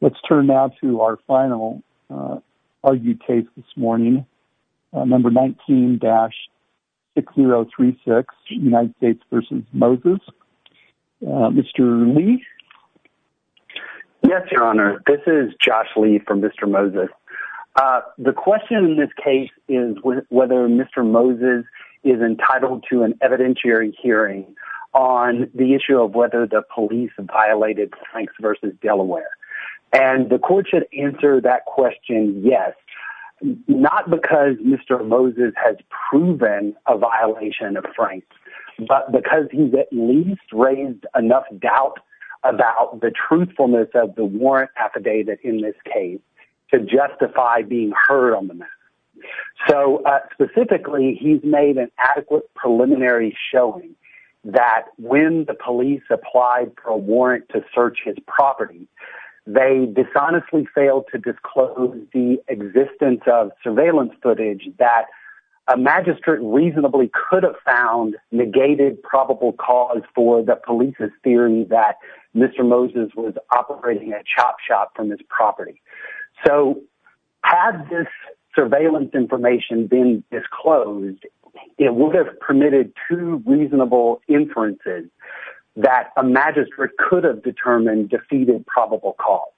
Let's turn now to our final argued case this morning. Number 19-6036, United States v. Moses. Mr. Lee? Yes, your honor. This is Josh Lee from Mr. Moses. The question in this case is whether Mr. Moses is entitled to an evidentiary hearing on the issue of whether the police violated Franks v. Delaware. And the court should answer that question yes, not because Mr. Moses has proven a violation of Franks, but because he's at least raised enough doubt about the truthfulness of the warrant affidavit in this case to justify being heard on the matter. So specifically, he's made an adequate preliminary showing that when the police applied for a warrant to search his property, they dishonestly failed to disclose the existence of surveillance footage that a magistrate reasonably could have found negated probable cause for the police's theory that Mr. Moses was operating a chop shop from his property. So had this surveillance information been disclosed, it would have permitted two reasonable inferences that a magistrate could have determined defeated probable cause.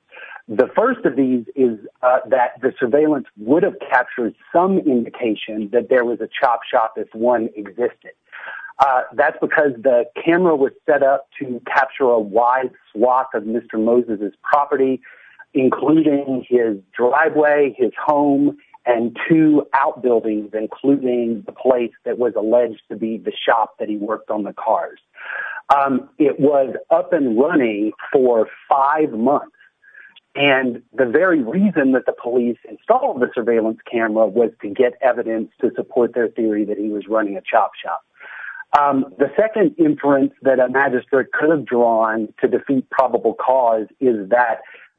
The first of these is that the surveillance would have captured some indication that there was a chop shop if one existed. That's because the camera was set up to capture a wide swath of Mr. Moses' property, including his driveway, his home, and two outbuildings, including the place that was alleged to be the shop that he worked on the cars. It was up and running for five months, and the very reason that the police installed the surveillance camera was to get evidence to support their theory that he was running a chop shop. The second inference that a magistrate could have drawn to defeat probable cause is that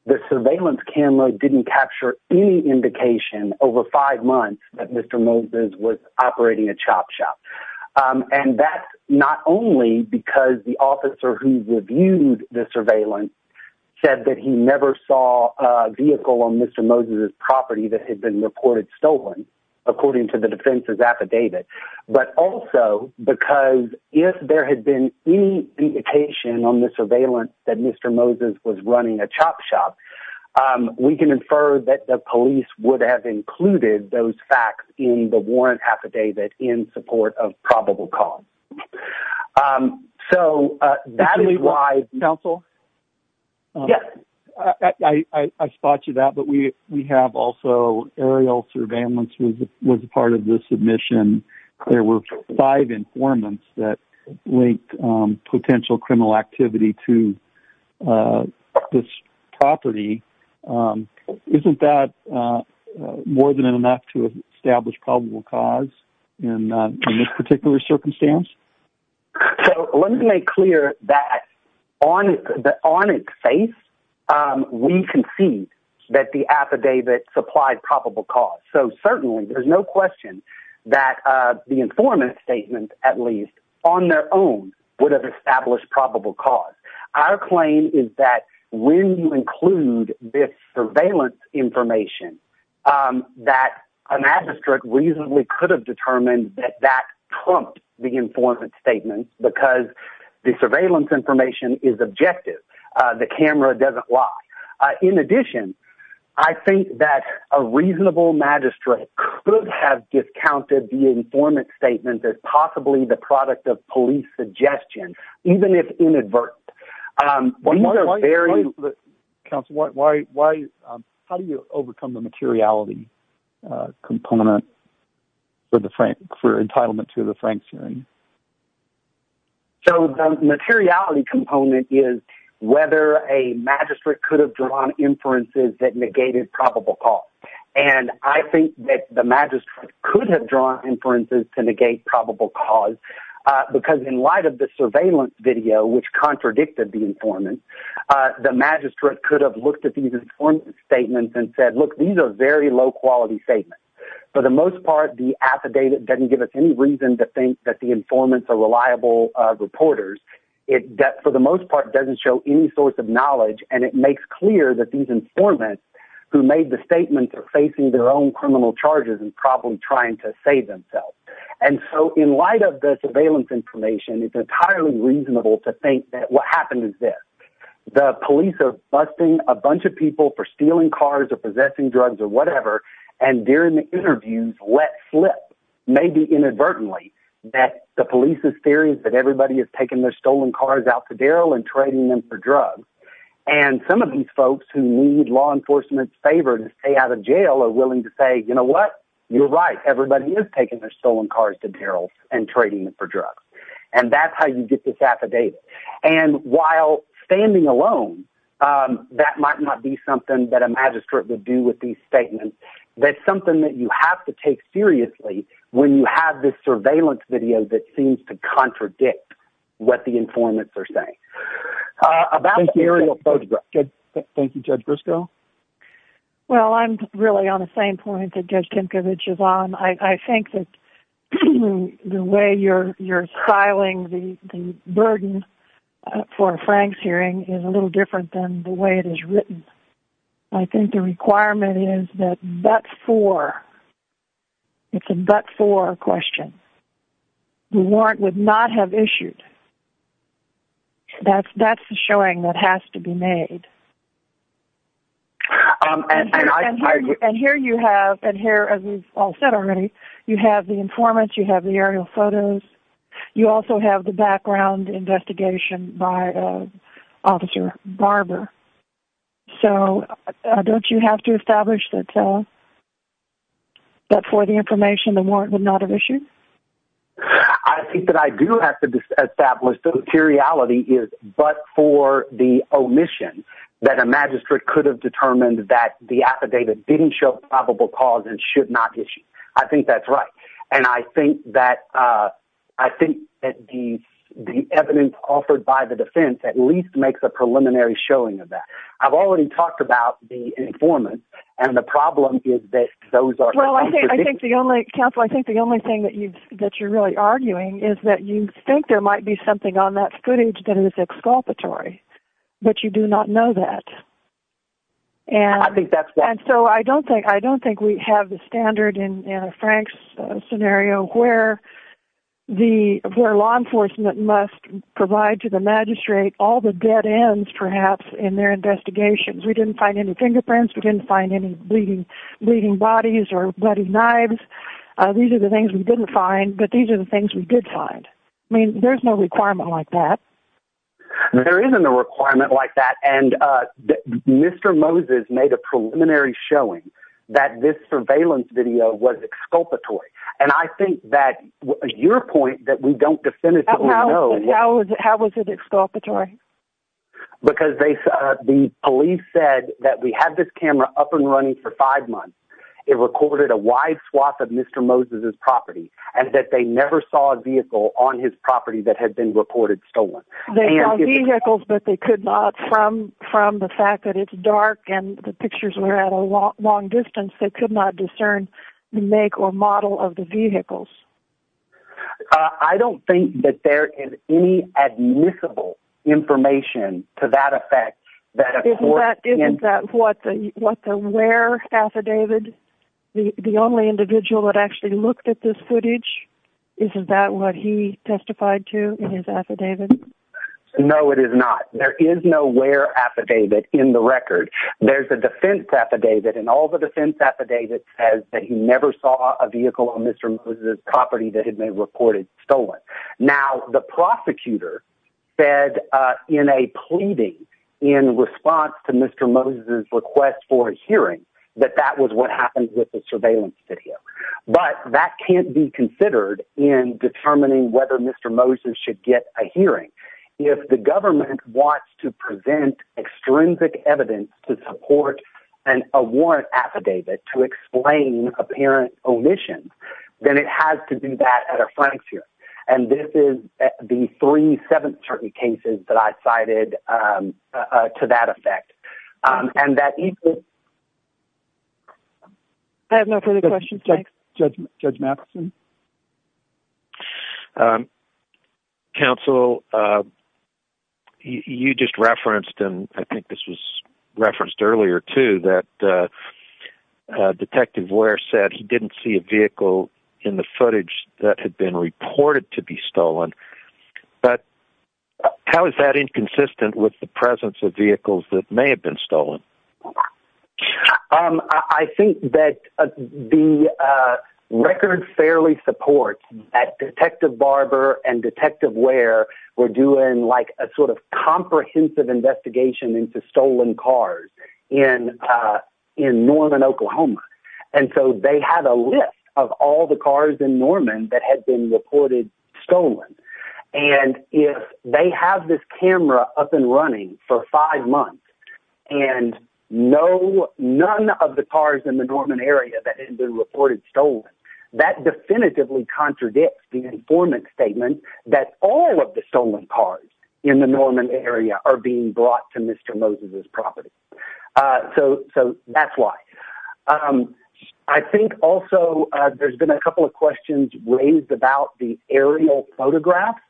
the surveillance camera didn't capture any indication over five months that Mr. Moses was operating a chop shop. And that's not only because the officer who reviewed the surveillance said that he never saw a vehicle on Mr. Moses' property that had been reported stolen, according to the defense's affidavit, but also because if there had been any indication on chop shop, we can infer that the police would have included those facts in the warrant affidavit in support of probable cause. So, that is why... Counsel? Yes. I spot you that, but we have also aerial surveillance was part of the submission. There were five informants that linked potential activity to this property. Isn't that more than enough to establish probable cause in this particular circumstance? So, let me make clear that on its face, we can see that the affidavit supplied probable cause. So, certainly, there's no question that the informant's statement, at least, on their own would have established probable cause. Our claim is that when you include this surveillance information, that a magistrate reasonably could have determined that that trumped the informant's statement because the surveillance information is objective. The camera doesn't lie. In addition, I think that a reasonable magistrate could have discounted the informant's statement as possibly the product of police suggestion, even if inadvertent. Counsel, how do you overcome the materiality component for entitlement to the Frank hearing? So, the materiality component is whether a I think that the magistrate could have drawn inferences to negate probable cause because in light of the surveillance video, which contradicted the informant, the magistrate could have looked at these informant's statements and said, look, these are very low-quality statements. For the most part, the affidavit doesn't give us any reason to think that the informants are reliable reporters. For the most part, it doesn't show any source of knowledge, and it makes clear that these informants who made the statement are facing their own criminal charges and probably trying to save themselves. And so, in light of the surveillance information, it's entirely reasonable to think that what happened is this. The police are busting a bunch of people for stealing cars or possessing drugs or whatever, and during the interviews, let slip, maybe inadvertently, that the police's theory is that and trading them for drugs. And some of these folks who need law enforcement's favor to stay out of jail are willing to say, you know what? You're right. Everybody is taking their stolen cars to barrels and trading them for drugs. And that's how you get this affidavit. And while standing alone, that might not be something that a magistrate would do with these statements. That's something that you have to take seriously when you have this surveillance video that seems to contradict what the informants are saying. Thank you, Judge Briscoe. Well, I'm really on the same point that Judge Tinkovich is on. I think that the way you're styling the burden for a Franks hearing is a little different than the way it is written. I think the requirement is that but for, it's a but for question, the warrant would not have issued. That's the showing that has to be made. And here you have, and here, as we've all said already, you have the informants, you have the aerial photos, you also have the background investigation by Officer Barber. So don't you have to establish that for the information, the warrant would not have issued? I think that I do have to establish the materiality is but for the omission that a magistrate could have determined that the affidavit didn't show probable cause and should not issue. I think that's right. And I think that the evidence offered by the defense at least makes a preliminary showing of that. I've already talked about the informant. And the problem is that those are well, I think the only counsel, I think the only thing that you've that you're really arguing is that you think there might be something on that footage that is exculpatory. But you do not know that. And I think that's bad. So I don't think I don't think we have the standard in Frank's scenario where the law enforcement must provide to the magistrate all the dead ends perhaps in their investigations. We didn't find any fingerprints, we didn't find any bleeding bodies or bloody knives. These are the things we didn't find, but these are the things we did find. I mean, there's no requirement like that. There isn't a requirement like that. And Mr. Moses made a preliminary showing that this surveillance video was exculpatory. And I think that your point that we don't definitively how was it exculpatory? Because they the police said that we had this camera up and running for five months. It recorded a wide swath of Mr. Moses's property, and that they never saw a vehicle on his property that had been reported stolen vehicles, but they could not from from the fact that it's dark and the pictures were at a long, long distance, they could not discern make or model of the vehicles. I don't think that there is any admissible information to that effect. That is that what the what the where affidavit, the only individual that actually looked at this footage? Is that what he testified to his affidavit? No, it is not. There is no where affidavit in the record. There's a defense affidavit and all the defense affidavit says that he never saw a vehicle on Mr. Moses's property that had been reported stolen. Now, the prosecutor said in a pleading in response to Mr. Moses's request for a hearing that that was what happened with the surveillance video. But that can't be considered in determining whether Mr. Moses should get a hearing. If the government wants to present extrinsic evidence to support and a warrant affidavit to explain apparent omission, then it has to do that at a frontier. And this is the three seven certain cases that I cited to that effect. And that. I have no further questions. Judge Judge Madison. Counsel, you just referenced, and I think this was referenced earlier, too, that Detective Ware said he didn't see a vehicle in the footage that had been reported to be stolen. But how is that inconsistent with the presence of vehicles that may have been stolen? Well, I think that the record fairly supports that Detective Barber and Detective Ware were doing like a sort of comprehensive investigation into stolen cars in in Norman, Oklahoma. And so they had a list of all the cars in Norman that had been reported stolen. And if they have this camera up and running for five months and no, none of the cars in the Norman area that had been reported stolen, that definitively contradicts the informant statement that all of the stolen cars in the Norman area are being brought to Mr. Moses's property. So so that's why I think also there's been a couple of questions raised about the aerial photographs.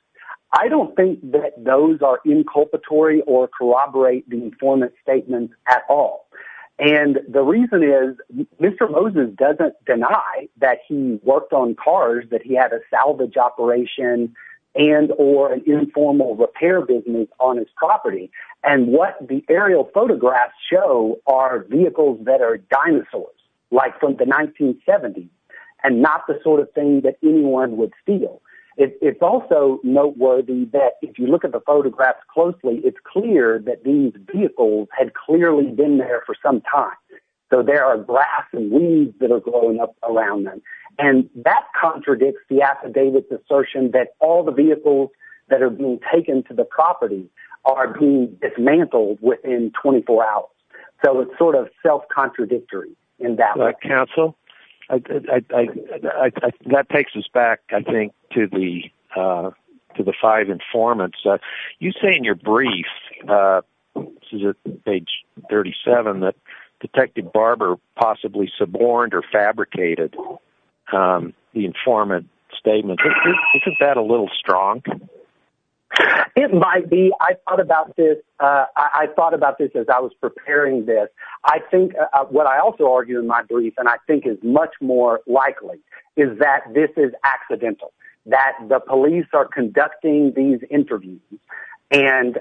I don't think that those are inculpatory or corroborate the informant statement at all. And the reason is Mr. Moses doesn't deny that he worked on cars, that he had a salvage operation and or an informal repair business on his property. And what the aerial photographs show are vehicles that are dinosaurs, like from the 1970s and not the sort of thing that also noteworthy that if you look at the photographs closely, it's clear that these vehicles had clearly been there for some time. So there are grass and weeds that are growing up around them. And that contradicts the affidavits assertion that all the vehicles that are being taken to the property are being dismantled within 24 hours. So it's sort of self contradictory. Counsel, that takes us back, I think, to the to the five informants. You say in your brief, page 37, that Detective Barber possibly suborned or fabricated the informant statement. Isn't that a little strong? It might be. I thought about this. I thought about this as I was preparing this. I think what I also argue in my brief and I think is much more likely is that this is accidental, that the police are conducting these interviews. And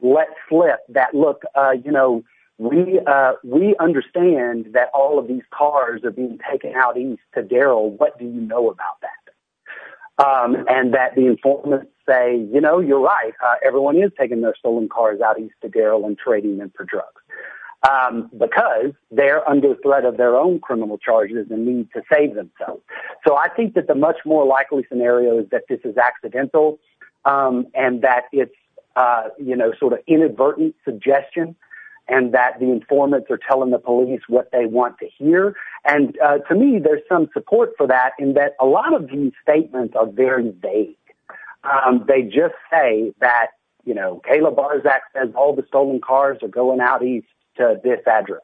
let's flip that look, you know, we we understand that all of these cars are being taken out east to Daryl. What do you know about that? And that the informant say, you know, you're right. Everyone is taking their stolen cars out east to Daryl and trading them for drugs because they're under the threat of their own criminal charges and need to save themselves. So I think that the much more likely scenario is that this is accidental and that it's, you know, sort of inadvertent suggestion and that the informants are telling the police what they want to hear. And to me, there's some support for that in that a lot of these statements are very vague. They just say that, you know, Kayla Barczak says all the stolen cars are going out east to this address.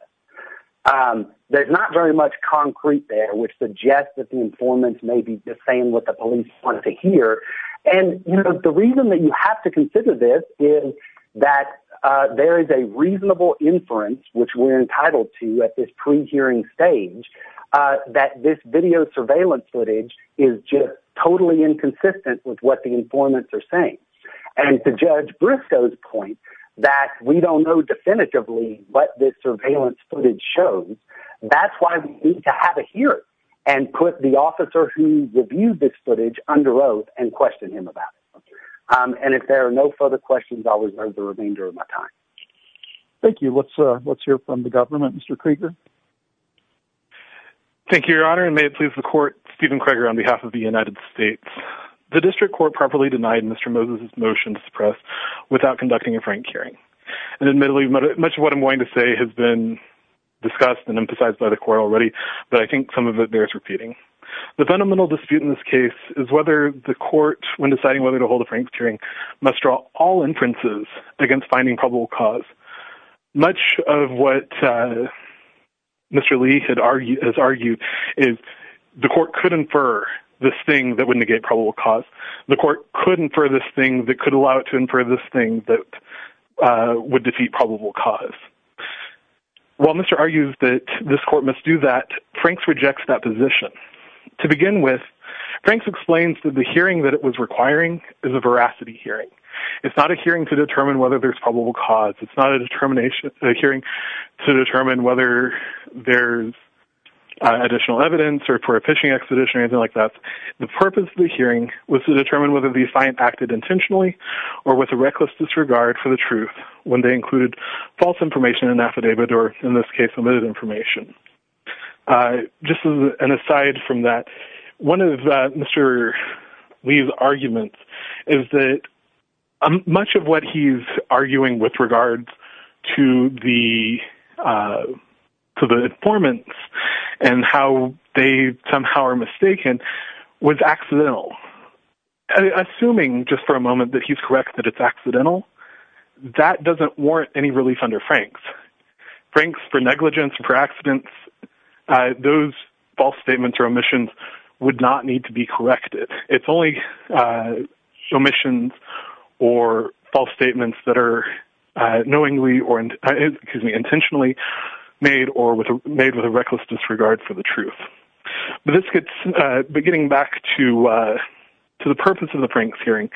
There's not very much concrete there, which suggests that the informants may be just saying what the police want to hear. And, you know, the reason that you have to consider this is that there is a reasonable inference, which we're entitled to at this pre-hearing stage, that this video surveillance footage is just totally inconsistent with what the informants are saying. And to Judge Briscoe's point that we don't know definitively what this surveillance footage shows, that's why we need to have a hearing and put the officer who reviewed this footage under oath and question him about it. And if there are no further questions, I'll reserve the remainder of my time. Thank you. Let's hear from the government. Mr. Krieger. Thank you, Your Honor, and may it please the Court, Stephen Krieger on behalf of the United States. The District Court properly denied Mr. Moses' motion to suppress without conducting a frank hearing. And admittedly, much of what I'm going to say has been discussed and emphasized by the Court already, but I think some of it bears repeating. The fundamental dispute in this case is whether the Court, when deciding whether to hold a frank hearing, must draw all inferences against finding probable cause. Much of what Mr. Lee has argued is the Court could infer this thing that would negate probable cause. The Court could infer this thing that could allow it to infer this thing that would defeat probable cause. While Mr. Lee argues that this Court must do that, Franks rejects that position. To begin with, Franks explains that the hearing that it was requiring is a veracity hearing. It's not a hearing to determine whether there's probable cause. It's not a hearing to determine whether there's additional evidence or for a fishing expedition or anything like that. The purpose of the hearing was to determine whether the assignment acted intentionally or with a reckless disregard for the truth when they included false information in the affidavit or, in this case, limited information. Just an aside from that, one of Mr. Lee's arguments is that much of what he's arguing with regards to the informants and how they somehow are mistaken was accidental. Assuming, just for a moment, that he's correct that it's accidental, that doesn't warrant any relief under Franks. Franks, for negligence, for accidents, those false statements or omissions would not need to be corrected. It's only omissions or false statements that are intentionally made or made with a reckless disregard for the truth. But getting back to the purpose of the Franks hearing,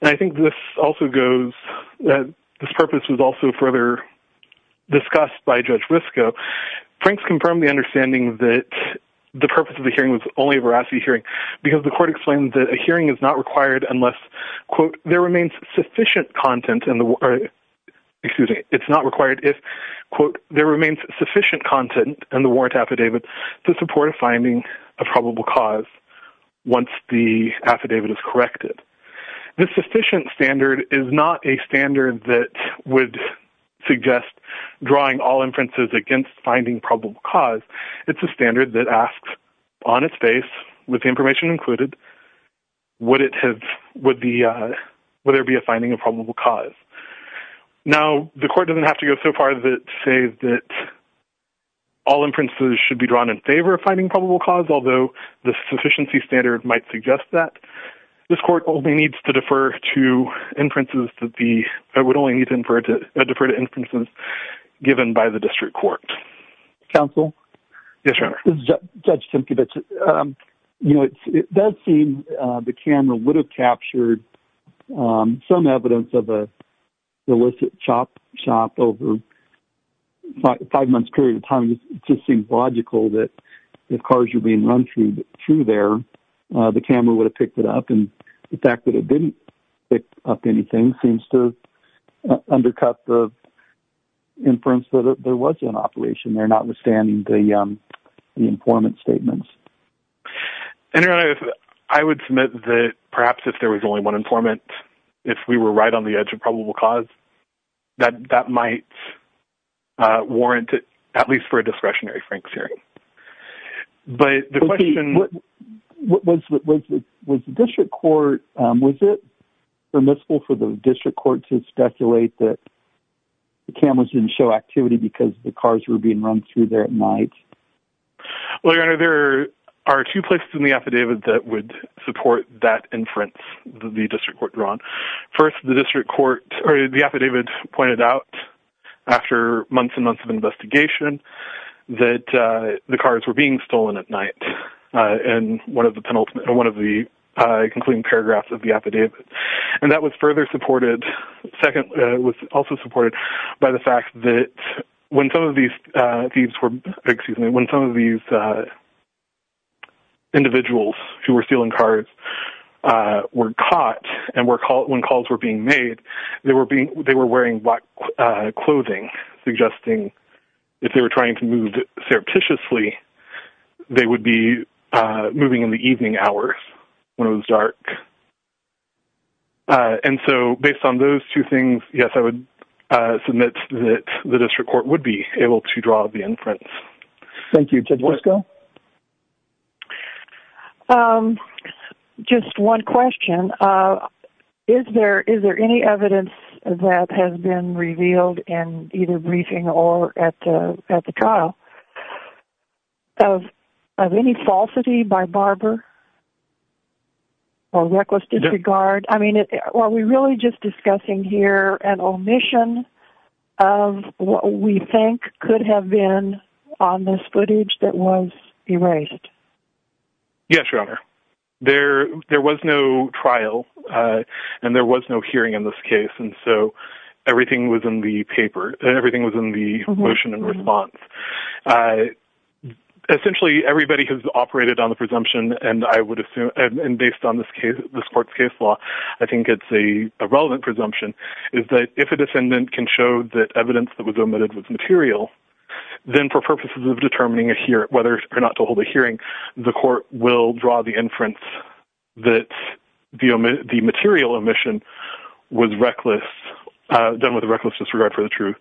and I think this also goes, this purpose was also further discussed by Judge Risco, Franks confirmed the understanding that the purpose of the hearing was only a veracity hearing because the court explained that a hearing is not required unless, quote, there remains sufficient content in the, excuse me, it's not required if, quote, there remains sufficient content in the warrant affidavit to support a finding of probable cause once the affidavit is corrected. This sufficient standard is not a standard that would suggest drawing all inferences against finding probable cause. It's a standard that asks on its face, with information included, would it have, would there be a finding of probable cause? Now, the court doesn't have to go so far as to say that all inferences should be drawn in might suggest that. This court only needs to defer to inferences that the, it would only need to defer to inferences given by the district court. Counsel? Yes, Your Honor. This is Judge Simkevich. You know, it does seem the camera would have captured some evidence of a illicit shop over a five-month period of time. It just seems logical that if cars are being run through there, the camera would have picked it up. And the fact that it didn't pick up anything seems to undercut the inference that there was an operation there, notwithstanding the informant statements. And Your Honor, I would submit that perhaps if there was only one informant, if we were right on the edge of probable cause, that that might warrant it, at least for a discretionary Frank's hearing. But the question... Was the district court, was it permissible for the district court to speculate that the cameras didn't show activity because the cars were being run through there at night? Well, Your Honor, there are two places in the affidavit that would support that inference that the district court drawn. First, the district court or the affidavit pointed out after months and months of investigation that the cars were being stolen at night in one of the concluding paragraphs of the affidavit. And that was further supported. Second, it was also supported by the fact that when some of these thieves were... Excuse me. And when calls were being made, they were wearing black clothing, suggesting if they were trying to move surreptitiously, they would be moving in the evening hours when it was dark. And so based on those two things, yes, I would submit that the district court would be able to draw the inference. Thank you. Judge Wisco? Just one question. Is there any evidence that has been revealed in either briefing or at the trial of any falsity by Barber or reckless disregard? I mean, are we really just discussing here an omission of what we think could have been on this footage that was erased? Yes, Your Honor. There was no trial and there was no hearing in this case. And so everything was in the paper and everything was in the motion and response. Essentially, everybody has operated on the presumption and I would assume, and based on this court's case law, I think it's a relevant presumption, is that if a defendant can show that evidence that was omitted was material, then for purposes of determining whether or not to hold a hearing, the court will draw the inference that the material omission was reckless, done with reckless disregard for the truth,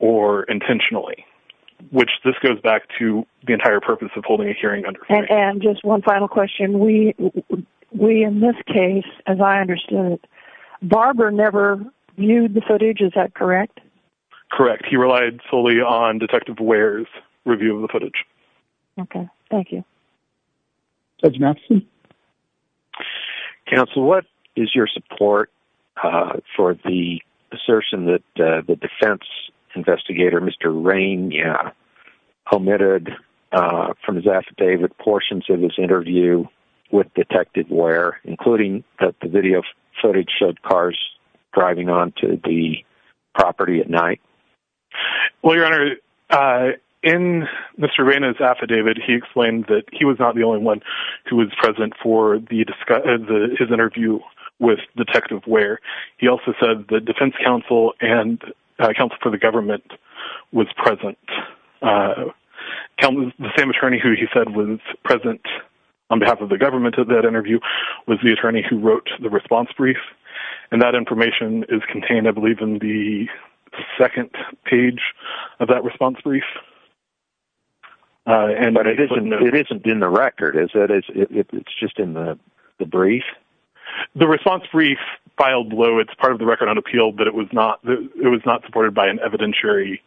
or intentionally, which this goes back to the entire purpose of holding a hearing. And just one final question. We, in this case, as I understood it, Barber never viewed the footage. Is that correct? Correct. He relied fully on Detective Ware's review of the footage. Okay. Thank you. Judge Matson? Counsel, what is your support for the assertion that the defense investigator, Mr. Rain, omitted from his affidavit portions of his interview with Detective Ware, including that the video footage showed cars driving onto the property at night? Well, Your Honor, in Mr. Rain's affidavit, he explained that he was not the only one who was present for his interview with Detective Ware. He also said the defense counsel and the same attorney who he said was present on behalf of the government of that interview was the attorney who wrote the response brief. And that information is contained, I believe, in the second page of that response brief. And it isn't in the record, is it? It's just in the brief? The response brief filed, though it's part of the record on appeal, but it was not supported by an evidentiary.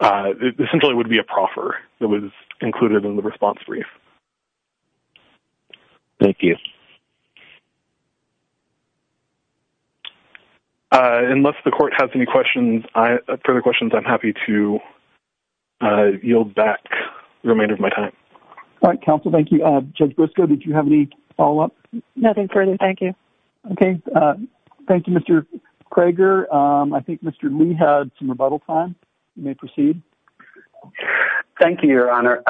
It essentially would be a proffer that was included in the response brief. Thank you. Unless the court has any further questions, I'm happy to yield back the remainder of my time. All right, counsel. Thank you. Judge Briscoe, did you have any follow-up? Nothing further. Thank you. Okay. Thank you, Mr. Krager. I think Mr. Lee had some rebuttal time. You may proceed. Thank you, Your Honor.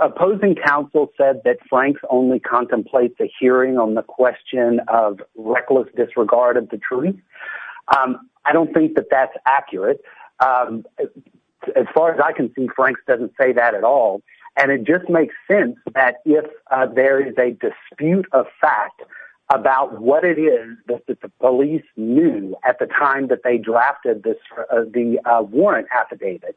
Opposing counsel said that Franks only contemplates a hearing on the question of reckless disregard of the truth. I don't think that that's accurate. As far as I can see, Franks doesn't say that at all. And it just makes sense that if there is a fact about what it is that the police knew at the time that they drafted the warrant affidavit,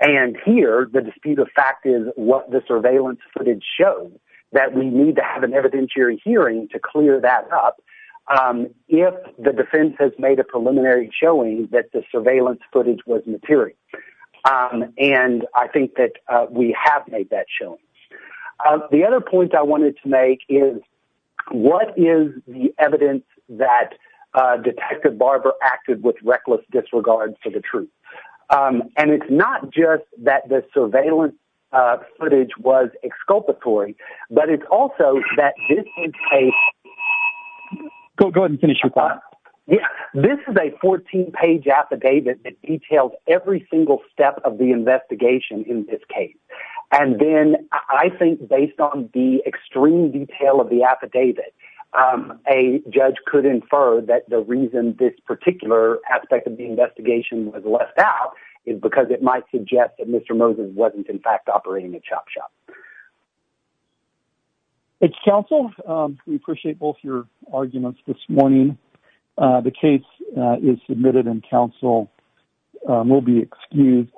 and here the dispute of fact is what the surveillance footage showed, that we need to have an evidentiary hearing to clear that up if the defense has made a preliminary showing that the surveillance footage was material. And I think that we have made that showing. The other point I wanted to make is what is the evidence that Detective Barber acted with reckless disregard for the truth? And it's not just that the surveillance footage was exculpatory, but it's also that this is a... Go ahead and finish your thought. Yeah. This is a 14-page affidavit that details every single step of the investigation in this case. And then I think based on the extreme detail of the affidavit, a judge could infer that the reason this particular aspect of the investigation was left out is because it might suggest that Mr. Moses wasn't in fact operating a chop shop. Counsel, we appreciate both your arguments this morning. The case is submitted and counsel will be excused.